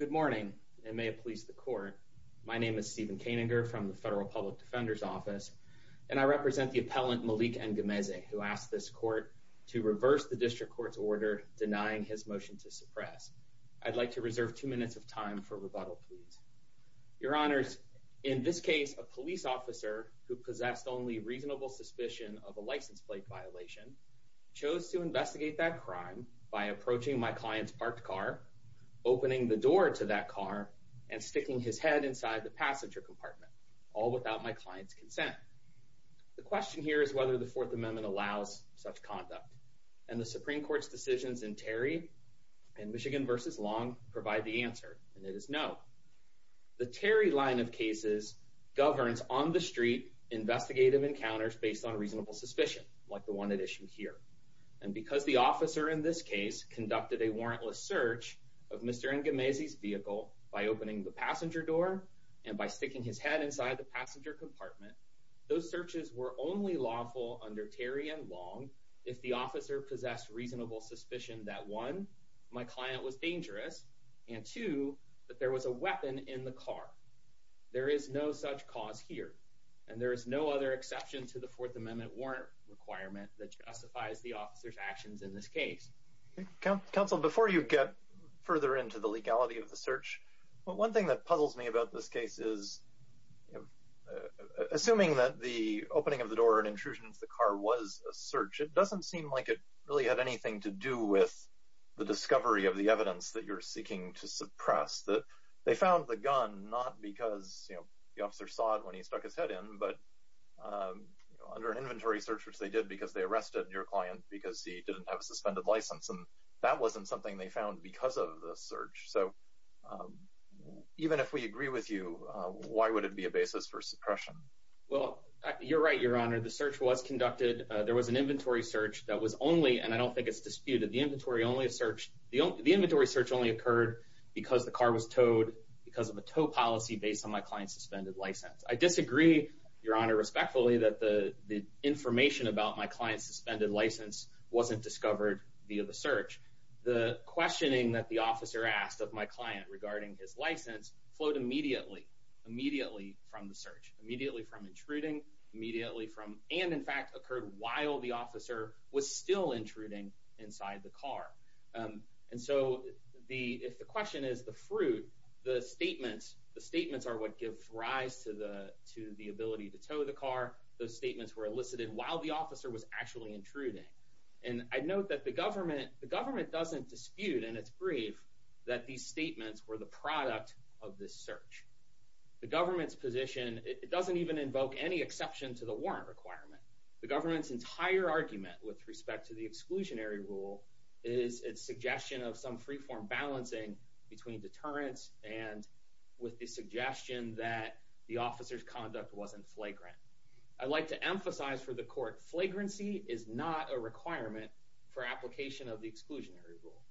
Good morning, and may it please the court. My name is Stephen Koehninger from the Federal Public Defender's Office, and I represent the appellant Malik Ngumezi, who asked this court to reverse the District Court's order denying his motion to suppress. I'd like to reserve two minutes of time for rebuttal, please. Your Honors, in this case, a police officer who possessed only reasonable suspicion of a license plate violation chose to investigate that crime by approaching my client's parked car, opening the door to that car, and sticking his head inside the passenger compartment, all without my client's consent. The question here is whether the Fourth Amendment allows such conduct, and the Supreme Court's decisions in Terry and Michigan v. Long provide the answer, and it is no. The Terry line of cases governs on-the-street investigative encounters based on reasonable suspicion, like the one at issue here, and because the officer in this case conducted a warrantless search of Mr. Ngumezi's vehicle by opening the passenger door and by sticking his head inside the passenger compartment, those searches were only lawful under Terry and Long if the officer possessed reasonable suspicion that, one, my client was dangerous, and two, that there was a weapon in the car. There is no such cause here, and there is no other exception to the Fourth Amendment warrant requirement that justifies the officer's actions in this case. Counsel, before you get further into the legality of the search, one thing that puzzles me about this case is, assuming that the opening of the door and intrusion into the car was a search, it doesn't seem like it really had anything to do with the discovery of the evidence that you're seeking to suppress, that they found the gun not because the officer saw it when he stuck his head in, but under an inventory search, which they did because they didn't have a suspended license, and that wasn't something they found because of the search. So, even if we agree with you, why would it be a basis for suppression? Well, you're right, Your Honor. The search was conducted, there was an inventory search that was only, and I don't think it's disputed, the inventory search only occurred because the car was towed, because of a tow policy based on my client's suspended license. I The information about my client's suspended license wasn't discovered via the search. The questioning that the officer asked of my client regarding his license flowed immediately, immediately from the search, immediately from intruding, immediately from, and in fact occurred while the officer was still intruding inside the car. And so, if the question is the fruit, the statements, the statements are what give rise to the ability to tow the car, those statements are elicited while the officer was actually intruding. And I note that the government, the government doesn't dispute, and it's brief, that these statements were the product of this search. The government's position, it doesn't even invoke any exception to the warrant requirement. The government's entire argument with respect to the exclusionary rule is its suggestion of some free-form balancing between deterrence and with the suggestion that the officer's conduct wasn't flagrant. I'd like to emphasize for the court, flagrancy is not a requirement for application of the exclusionary rule.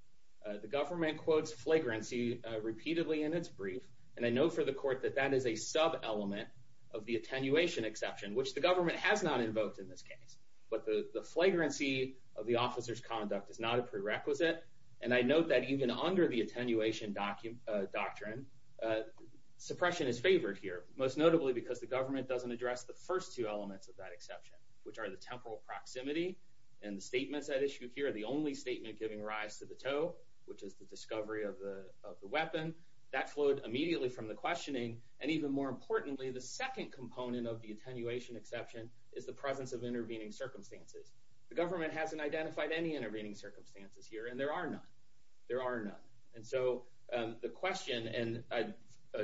The government quotes flagrancy repeatedly in its brief, and I note for the court that that is a sub-element of the attenuation exception, which the government has not invoked in this case. But the flagrancy of the officer's conduct is not a prerequisite, and I note that even under the attenuation doctrine, suppression is favored here, most notably because the government doesn't address the first two elements of that exception, which are the temporal proximity, and the statements at issue here, the only statement giving rise to the tow, which is the discovery of the weapon, that flowed immediately from the questioning, and even more importantly, the second component of the attenuation exception is the presence of intervening circumstances. The government hasn't identified any intervening circumstances here, and there are none. There are none. And so the question, and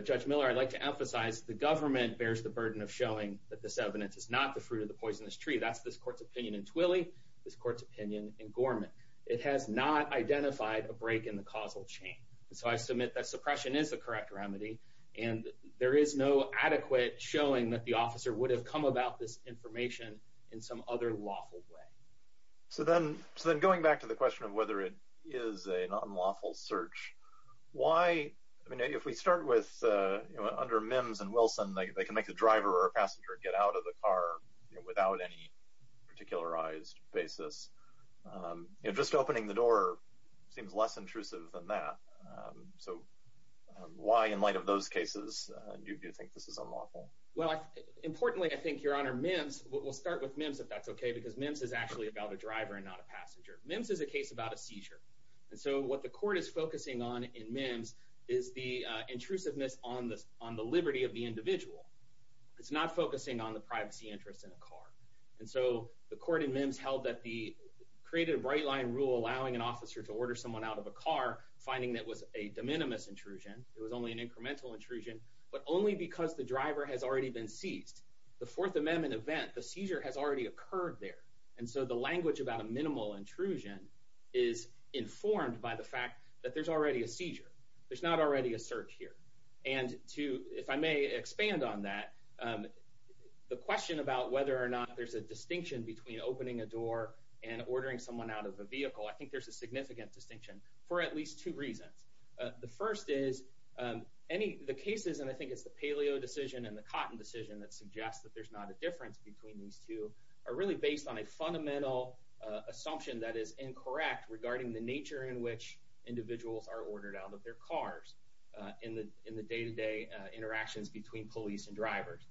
Judge Miller, I'd like to emphasize, the government bears the burden of showing that this evidence is not the fruit of the poisonous tree. That's this court's opinion in Twilley, this court's opinion in Gorman. It has not identified a break in the causal chain. And so I submit that suppression is the correct remedy, and there is no adequate showing that the officer would have come about this information in some other lawful way. So then going back to the question of whether it is an unlawful search, why, I mean, if we start with, under MIMS and Wilson, they can make the driver or passenger get out of the car without any particularized basis. Just opening the door seems less intrusive than that. So why, in light of those cases, do you think this is unlawful? Well, importantly, I think, Your Honor, MIMS, we'll start with MIMS, if that's okay, because MIMS is actually about a driver and not a passenger. MIMS is a case about a seizure. And so what the court is focusing on in MIMS is the intrusiveness on the liberty of the individual. It's not focusing on the privacy interest in a car. And so the court in MIMS held that the, created a bright-line rule allowing an officer to order someone out of a car, finding that was a de minimis intrusion, it was only an incremental intrusion, but only because the driver has already been seized. The Fourth Amendment event, the seizure has already occurred there. And so the language about a minimal intrusion is informed by the fact that there's already a seizure. There's not already a search here. And to, if I may expand on that, the question about whether or not there's a distinction between opening a door and ordering someone out of a vehicle, I think there's a significant distinction for at least two reasons. The first is, any, the cases, and I think it's the Paleo decision and the Cotton decision that suggests that there's not a difference between these two, are really based on a fundamental assumption that is incorrect regarding the nature in which individuals are ordered out of their cars in the day-to-day interactions between police and drivers.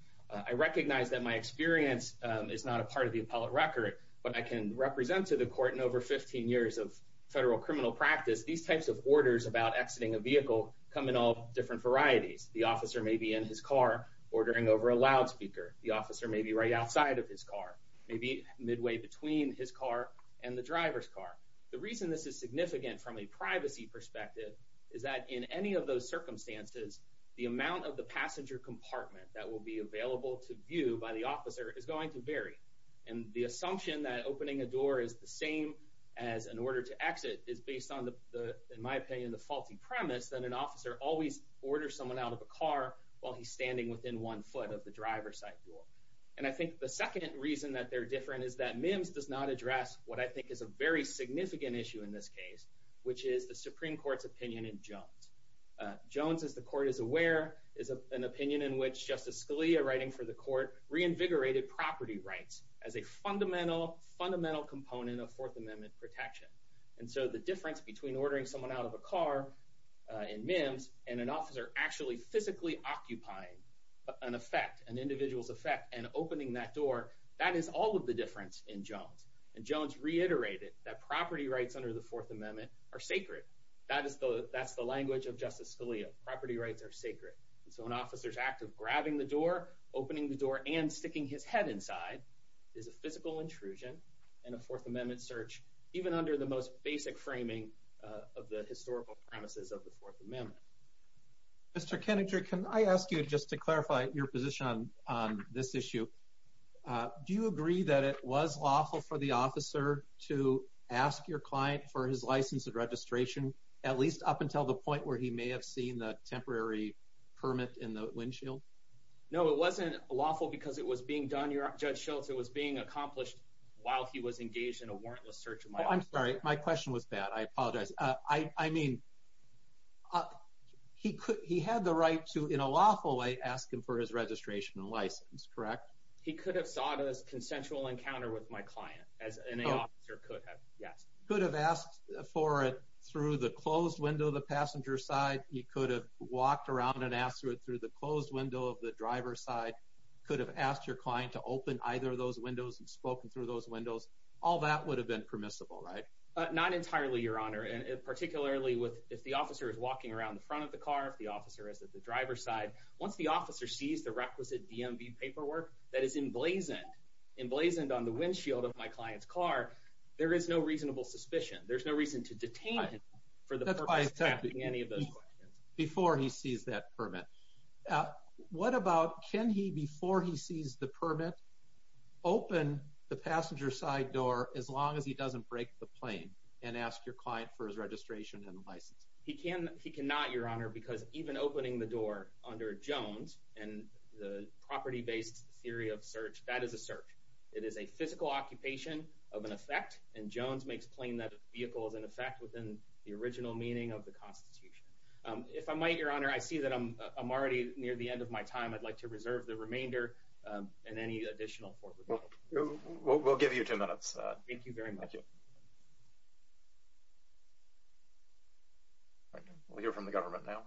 I recognize that my experience is not a part of the appellate record, but I can represent to the court in over 15 years of federal criminal practice, these types of orders about exiting a vehicle come in all different varieties. The officer may be in his car ordering over a loudspeaker. The officer may be right outside of his car. Maybe midway between his car and the driver's car. The reason this is significant from a privacy perspective is that in any of those circumstances, the amount of the passenger compartment that will be available to view by the officer is going to vary. And the assumption that opening a door is the same as an order to exit is based on, in my opinion, the faulty premise that an officer always orders someone out of a car while he's standing within one foot of the driver's side door. And I think the second reason that they're different is that MIMS does not address what I think is a very significant issue in this case, which is the Supreme Court's opinion in Jones. Jones, as the court is aware, is an opinion in which Justice Scalia, writing for the court, reinvigorated property rights as a fundamental, fundamental component of Fourth Amendment protection. And so the difference between ordering someone out of a car in MIMS and an officer actually physically occupying an effect, an individual's effect, and opening that door, that is all of the difference in Jones. And Jones reiterated that property rights under the Fourth Amendment are sacred. That's the language of Justice Scalia. Property rights are sacred. And so an officer's act of grabbing the door, opening the door, and sticking his head inside is a physical intrusion in a Fourth Amendment search, even under the most basic framing of the historical premises of the Fourth Amendment. Mr. Keningtree, can I ask you, just to clarify your position on this issue, do you agree that it was lawful for the officer to ask your client for his license and registration, at least up until the point where he may have seen the temporary permit in the windshield? No, it wasn't lawful because it was being done, Judge Schultz. It was being accomplished while he was engaged in a warrantless search of my office. Oh, I'm sorry. My question was bad. I apologize. I mean, he had the right to, in a lawful way, ask him for his registration and license, correct? He could have sought a consensual encounter with my client, as an officer could have, yes. Could have asked for it through the closed window of the passenger side. He could have walked around and asked for it through the closed window of the driver's side. Could have asked your client to open either of those windows and spoken through those windows. All that would have been permissible, right? Not entirely, Your Honor. And particularly if the officer is walking around the front of the car, if the officer is at the driver's side, once the officer sees the requisite DMV paperwork that is emblazoned on the windshield of my client's car, there is no reasonable suspicion. There's no reason to detain him for the purpose of asking any of those questions. Before he sees that permit, what about, can he, before he sees the permit, open the passenger side door as long as he doesn't break the plane and ask your client for his registration and license? He can not, Your Honor, because even opening the door under Jones and the property-based theory of search, that is a search. It is a physical occupation of an effect, and Jones makes plain that a vehicle is an effect within the original meaning of the Constitution. If I might, Your Honor, I see that I'm already near the end of my time. I'd like to reserve the remainder and any additional for review. We'll give you two minutes. Thank you very much. We'll hear from the government now.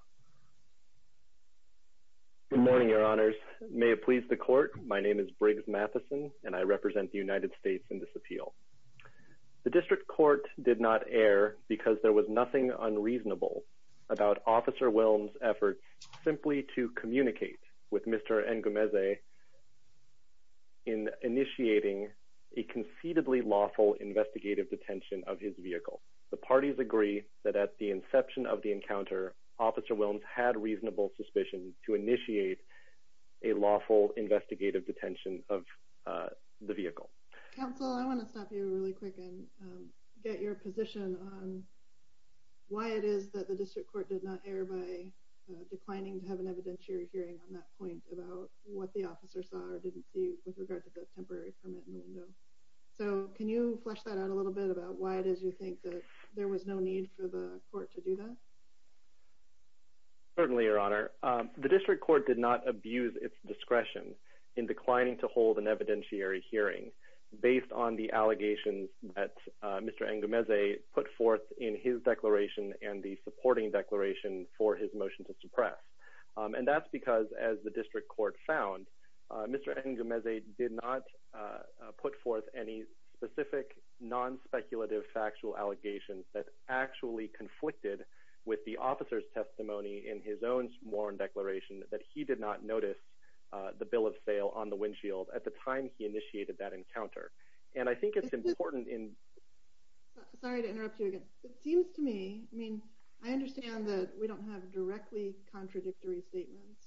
Good morning, Your Honors. May it please the Court, my name is Briggs Matheson, and I represent the United States in this appeal. The District Court did not err because there was nothing unreasonable about Officer Wilms' efforts simply to communicate with Mr. N. Gumeze in initiating a conceitably lawful investigative detention of his vehicle. The parties agree that at the inception of the encounter, Officer Wilms had reasonable suspicion to initiate a lawful investigative detention of the vehicle. Counsel, I want to stop you really quick and get your position on why it is that the District Court did not err by declining to have an evidentiary hearing on that point about what the officer saw or didn't see with regard to the temporary permit in the window. So can you flesh that out a little bit about why it is you think that there was no need for the Court to do that? Certainly, Your Honor. The District Court did not abuse its discretion in declining to hold an evidentiary hearing based on the allegations that Mr. N. Gumeze put forth in his declaration and the supporting declaration for his motion to suppress. And that's because, as the District Court found, Mr. N. Gumeze did not put forth any specific non-speculative factual allegations that actually conflicted with the officer's testimony in his own sworn declaration that he did not notice the bill of sale on the windshield at the time he initiated that encounter. And I think it's important in... Sorry to interrupt you again. It seems to me, I mean, I understand that we don't have directly contradictory statements.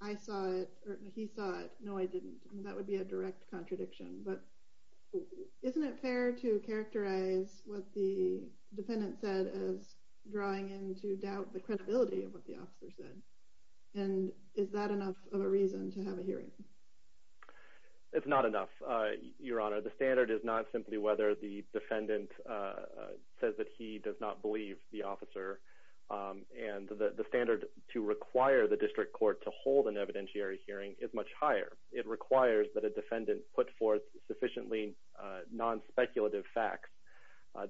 I saw it or he saw it. No, I didn't. That would be a direct contradiction. But isn't it fair to say that Mr. N. Gumeze did not believe what the officer said? And is that enough of a reason to have a hearing? It's not enough, Your Honor. The standard is not simply whether the defendant says that he does not believe the officer. And the standard to require the District Court to hold an evidentiary hearing is much higher. It requires that a defendant put forth sufficiently non-speculative facts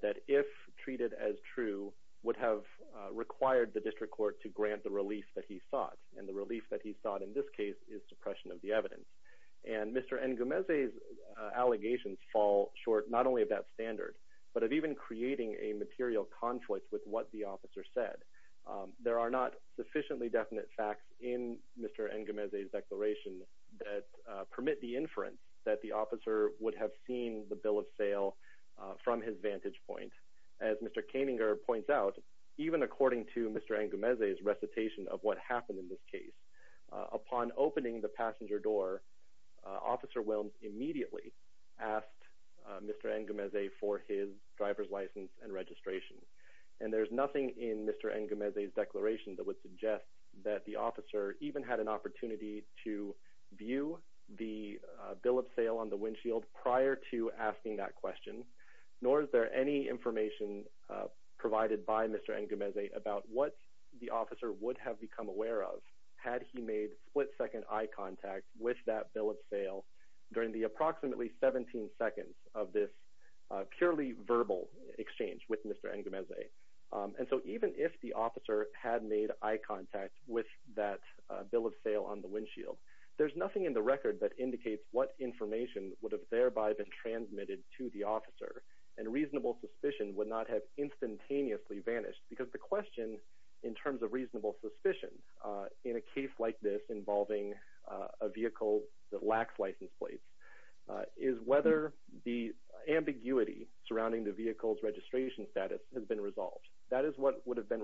that, if treated as true, would have required the District Court to grant the relief that he sought. And the relief that he sought in this case is suppression of the evidence. And Mr. N. Gumeze's allegations fall short not only of that standard, but of even creating a material conflict with what the officer said. There are not sufficiently definite facts in Mr. N. Gumeze's declaration that permit the inference that the officer would have seen the bill of sale from his vantage point. As Mr. Koeninger points out, even according to Mr. N. Gumeze's recitation of what happened in this case, upon opening the passenger door, officer Williams immediately asked Mr. N. Gumeze for his driver's license and registration. And there's nothing in Mr. N. Gumeze's declaration that would suggest that the officer even had an opportunity to view the bill of sale on the windshield prior to asking that question, nor is there any information provided by Mr. N. Gumeze about what the officer would have become aware of had he made split-second eye contact with that bill of sale during the approximately 17 seconds of this purely verbal exchange with Mr. N. Gumeze. And so even if the officer had made eye contact with that bill of sale on the windshield, there's nothing in the record that indicates what information would have thereby been transmitted to the officer and reasonable suspicion would not have instantaneously vanished. Because the question in terms of reasonable suspicion in a case like this involving a vehicle that lacks license plates is whether the ambiguity surrounding the vehicle's registration status has been resolved. That is what would have been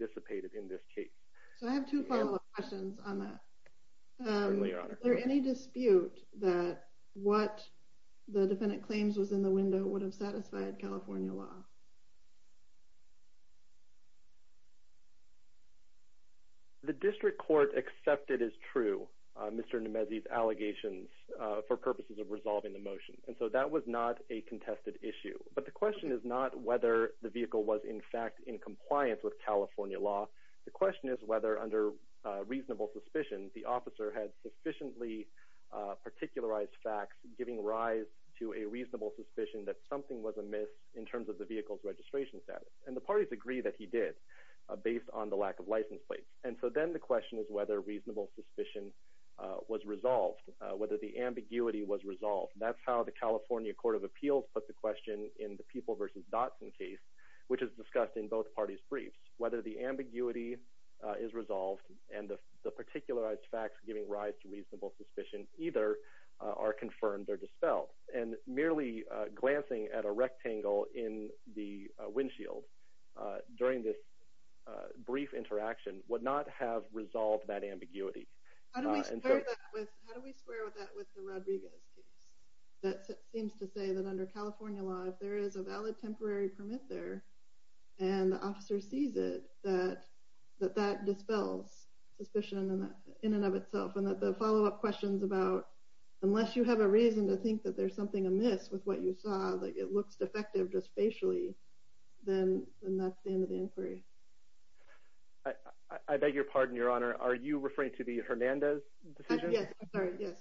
anticipated in this case. So I have two follow-up questions on that. Is there any dispute that what the defendant claims was in the window would have satisfied California law? The district court accepted as true Mr. N. Gumeze's allegations for purposes of resolving the motion. And so that was not a contested issue. But the question is not whether the vehicle was in fact in compliance with California law. The question is whether under reasonable suspicion the officer had sufficiently particularized facts giving rise to a reasonable suspicion that something was amiss in terms of the vehicle's registration status. And the parties agree that he did based on the lack of license plates. And so then the question is whether reasonable suspicion was resolved, whether the ambiguity was resolved. That's how the California Court of Appeals put the question in the People v. Dotson case, which is discussed in both parties' briefs. Whether the ambiguity is resolved and the particularized facts giving rise to reasonable suspicion either are confirmed or dispelled. And merely glancing at a rectangle in the windshield during this brief interaction would not have resolved that ambiguity. How do we square that with the Rodriguez case? That seems to say that under California law, if there is a valid temporary permit there and the officer sees it, that that dispels suspicion in and of itself. And that the follow-up questions about, unless you have a reason to think that there's something amiss with what you saw, like it looks defective just facially, then that's the end of the inquiry. I beg your pardon, Your Honor. Are you referring to the Hernandez decision? Yes. I'm sorry. Yes.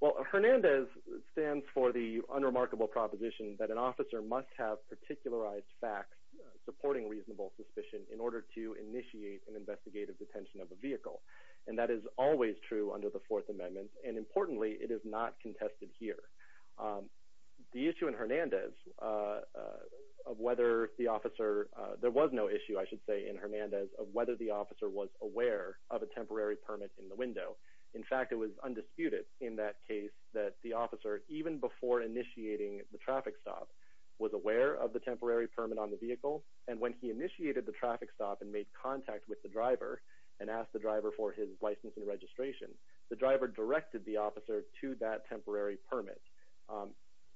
Well, Hernandez stands for the unremarkable proposition that an officer must have particularized facts supporting reasonable suspicion in order to initiate an investigative detention of a vehicle. And that is always true under the Fourth Amendment. And importantly, it is not contested here. The issue in Hernandez of whether the officer, there was no issue, I should say, in Hernandez of whether the officer was aware of a temporary permit in the window. In fact, it was undisputed in that case that the officer, even before initiating the traffic stop, was aware of the temporary permit on the vehicle. And when he initiated the traffic stop and made contact with the driver and asked the driver for his license and registration, the driver directed the officer to that temporary permit.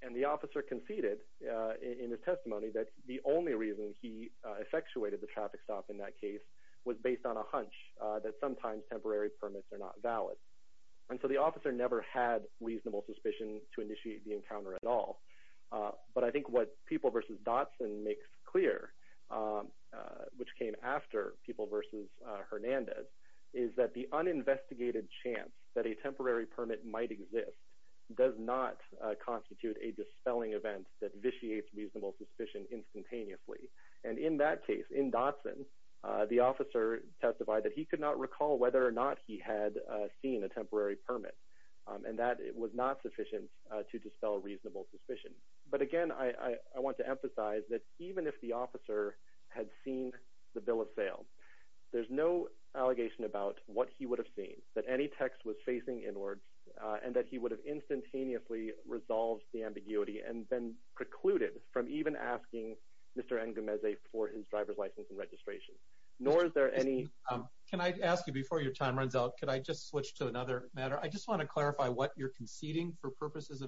And the officer conceded in his testimony that the only reason he effectuated the traffic stop in that case was based on a hunch that sometimes temporary permits are not valid. And so the officer never had reasonable suspicion to initiate the encounter at all. But I think what People v. Dotson makes clear, which came after People v. Hernandez, is that the uninvestigated chance that a temporary permit might exist does not constitute a dispelling event that vitiates reasonable suspicion instantaneously. And in that case, in Dotson, the officer testified that he could not recall whether or not he had seen a temporary permit. And that was not sufficient to dispel reasonable suspicion. But again, I want to emphasize that even if the officer had seen the bill of sale, there's no allegation about what he would have seen, that any text was facing inwards, and that he would have instantaneously resolved the ambiguity and been precluded from even asking Mr. N. Gomez for his driver's license and registration. Nor is there any... Can I ask you, before your time runs out, could I just switch to another matter? I just want to Are you conceding for purposes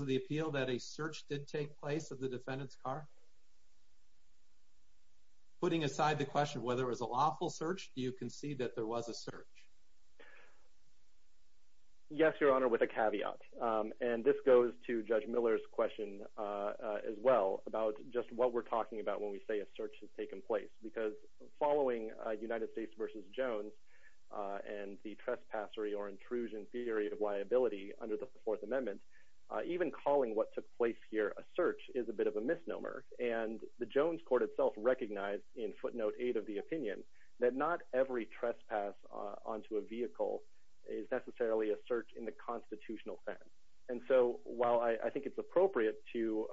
of the appeal that a search did take place of the defendant's car? Putting aside the question whether it was a lawful search, do you concede that there was a search? Yes, Your Honor, with a caveat. And this goes to Judge Miller's question as well, about just what we're talking about when we say a search has taken place. Because following United States v. Jones and the trespassory or intrusion theory of liability under the Fourth Amendment, even calling what took place here a search is a bit of a misnomer. And the Jones court itself recognized in footnote 8 of the opinion that not every trespass onto a vehicle is necessarily a search in the constitutional sense. And so while I think it's appropriate to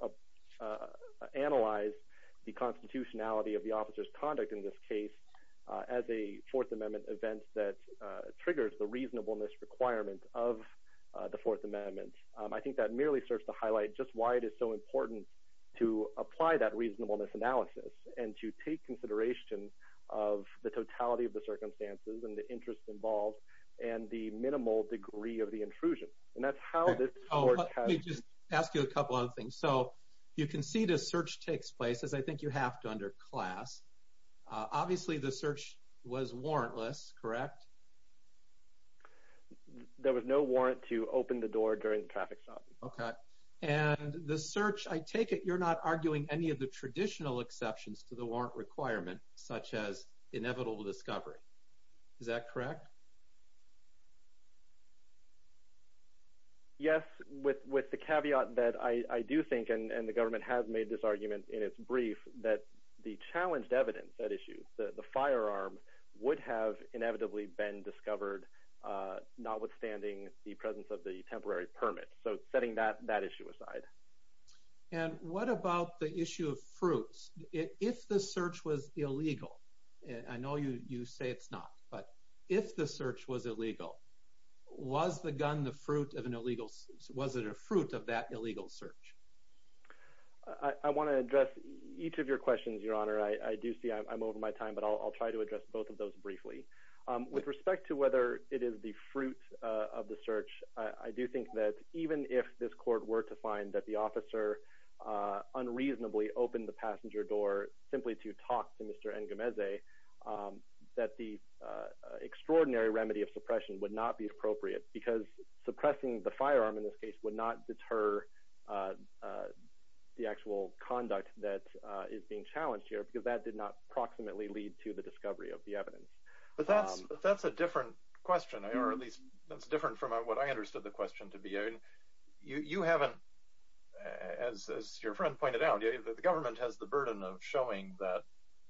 analyze the constitutionality of the officer's conduct in this case as a Fourth Amendment event that triggers the reasonableness requirement of the Fourth Amendment, I think that merely serves to highlight just why it is so important to apply that reasonableness analysis and to take consideration of the totality of the circumstances and the interest involved and the minimal degree of the intrusion. And that's how this court has... Oh, let me just ask you a couple other things. So you concede a search takes place, as I think you have to under class. Obviously, the search was warrantless, correct? There was no warrant to open the door during the traffic stop. Okay. And the search, I take it you're not arguing any of the traditional exceptions to the warrant requirement, such as inevitable discovery. Is that correct? Yes. With the caveat that I do think, and the government has made this argument in its brief, that the challenged evidence at issue, the firearm would have inevitably been discovered, notwithstanding the presence of the temporary permit. So setting that issue aside. And what about the issue of fruits? If the search was illegal, I know you say it's not, but if the search was illegal, was the gun the fruit of an illegal... Was it a fruit of that illegal search? I want to address each of your questions, Your Honor. I do see I'm over my time, but I'll try to address both of those briefly. With respect to whether it is the fruit of the search, I do think that even if this court were to find that the officer unreasonably opened the extraordinary remedy of suppression would not be appropriate, because suppressing the firearm, in this case, would not deter the actual conduct that is being challenged here, because that did not proximately lead to the discovery of the evidence. But that's a different question, or at least that's different from what I understood the question to be. You haven't, as your friend pointed out, the government has the burden of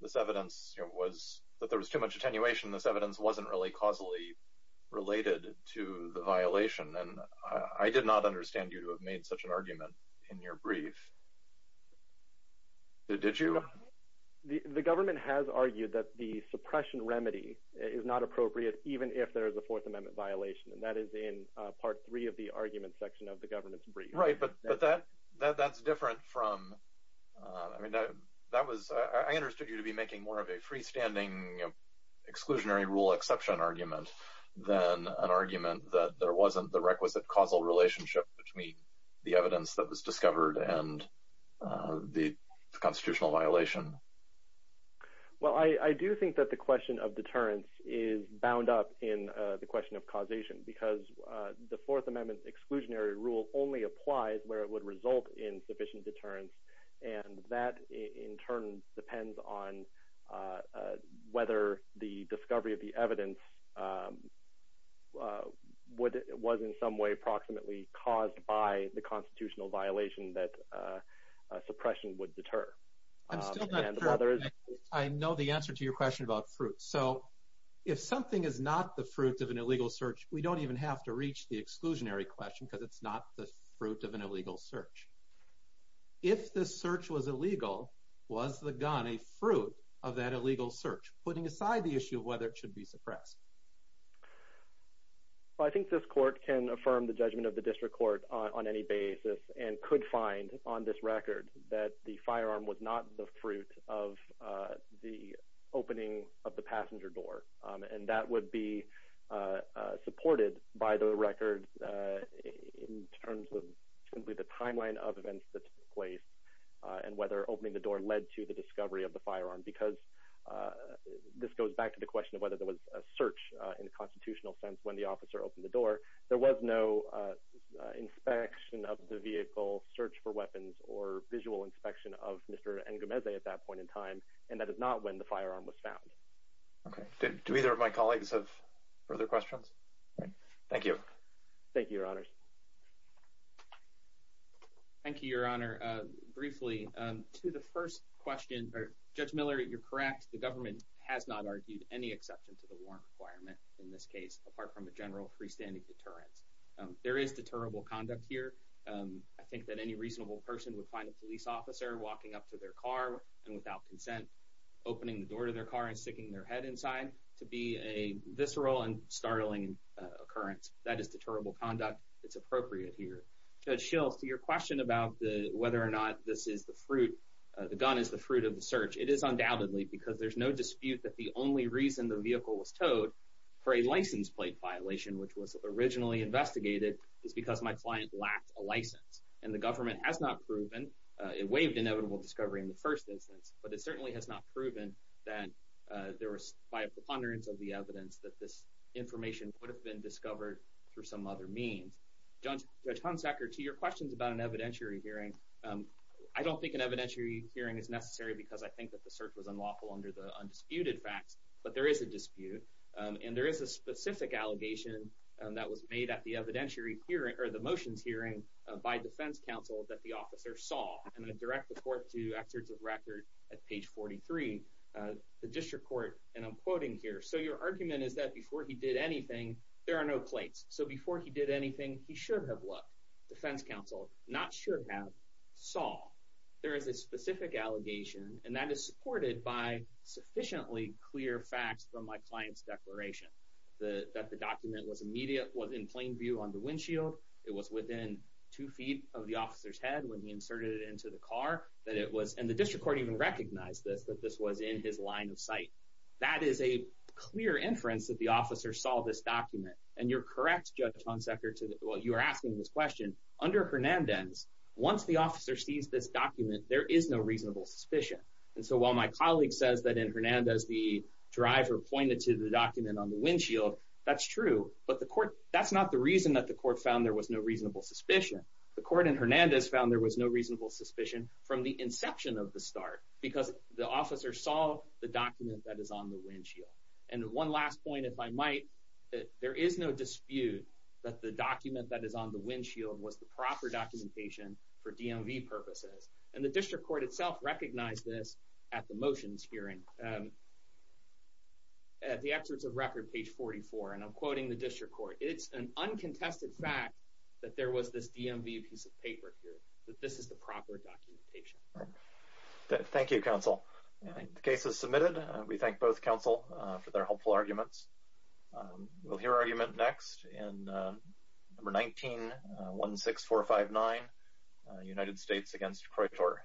this evidence was that there was too much attenuation. This evidence wasn't really causally related to the violation, and I did not understand you to have made such an argument in your brief. Did you? The government has argued that the suppression remedy is not appropriate, even if there is a Fourth Amendment violation, and that is in part three of the argument section of the government's brief. Right, but that's different from, I mean, that was, I understood you to be making more of a freestanding exclusionary rule exception argument than an argument that there wasn't the requisite causal relationship between the evidence that was discovered and the constitutional violation. Well, I do think that the question of deterrence is bound up in the question of causation, because the Fourth Amendment's exclusionary rule only applies where it would result in sufficient deterrence, and that in turn depends on whether the discovery of the evidence was in some way proximately caused by the constitutional violation that suppression would deter. I'm still not sure I know the answer to your question about so if something is not the fruit of an illegal search, we don't even have to reach the exclusionary question because it's not the fruit of an illegal search. If the search was illegal, was the gun a fruit of that illegal search, putting aside the issue of whether it should be suppressed? Well, I think this court can affirm the judgment of the district court on any basis and could find on this record that the firearm was not the fruit of the opening of the passenger door, and that would be supported by the record in terms of simply the timeline of events that took place and whether opening the door led to the discovery of the firearm, because this goes back to the question of whether there was a search in a constitutional sense when the officer opened the door. There was no inspection of the vehicle, search for weapons, or visual inspection of Mr. N. Gomezzi at that point in time, and that is not when the firearm was found. Okay. Do either of my colleagues have further questions? Thank you. Thank you, Your Honors. Thank you, Your Honor. Briefly, to the first question, Judge Miller, you're correct. The government has not argued any exception to the warrant requirement in this case, apart from a general freestanding deterrence. There is deterrable conduct here. I think that any reasonable person would find a police officer walking up to their car and, without consent, opening the door to their car and sticking their head inside to be a visceral and startling occurrence. That is deterrable conduct. It's appropriate here. Judge Schill, to your question about whether or not this is the fruit, the gun is the fruit of the search, it is undoubtedly, because there's no dispute that the only reason the vehicle was towed, for a license plate violation, which was originally investigated, is because my client lacked a license. And the government has not proven, it waived inevitable discovery in the first instance, but it certainly has not proven that there was, by a preponderance of the evidence, that this information would have been discovered through some other means. Judge Hunsacker, to your questions about an evidentiary hearing, I don't think an evidentiary hearing is necessary because I think that the search was unlawful under the undisputed facts, but there is a dispute, and there is a specific allegation that was made at the motions hearing by defense counsel that the officer saw. And I direct the court to excerpts of record at page 43. The district court, and I'm quoting here, so your argument is that before he did anything, there are no plates. So before he did anything, he should have looked. Defense counsel, not should have, saw. There is a specific allegation, and that is supported by sufficiently clear facts from my client's declaration, that the document was immediate, was in plain view on the windshield, it was within two feet of the officer's head when he inserted it into the car, that it was, and the district court even recognized this, that this was in his line of sight. That is a clear inference that the officer saw this document. And you're correct, Judge Hunsacker, to what you are asking this question. Under Hernandez, once the officer sees this document, there is no reasonable suspicion. And so while my colleague says that in Hernandez the driver pointed to the document on the windshield, that's true, but the court, that's not the reason that the court found there was no reasonable suspicion. The court in Hernandez found there was no reasonable suspicion from the inception of the start, because the officer saw the document that is on the windshield. And one last point, if I might, there is no dispute that the document that is on the windshield was the documentation for DMV purposes. And the district court itself recognized this at the motions hearing, at the excerpts of record, page 44, and I'm quoting the district court. It's an uncontested fact that there was this DMV piece of paper here, that this is the proper documentation. Thank you, counsel. The case is submitted. We thank both counsel for their helpful arguments. We'll hear argument next in number 19-16459, United States against Kroitor.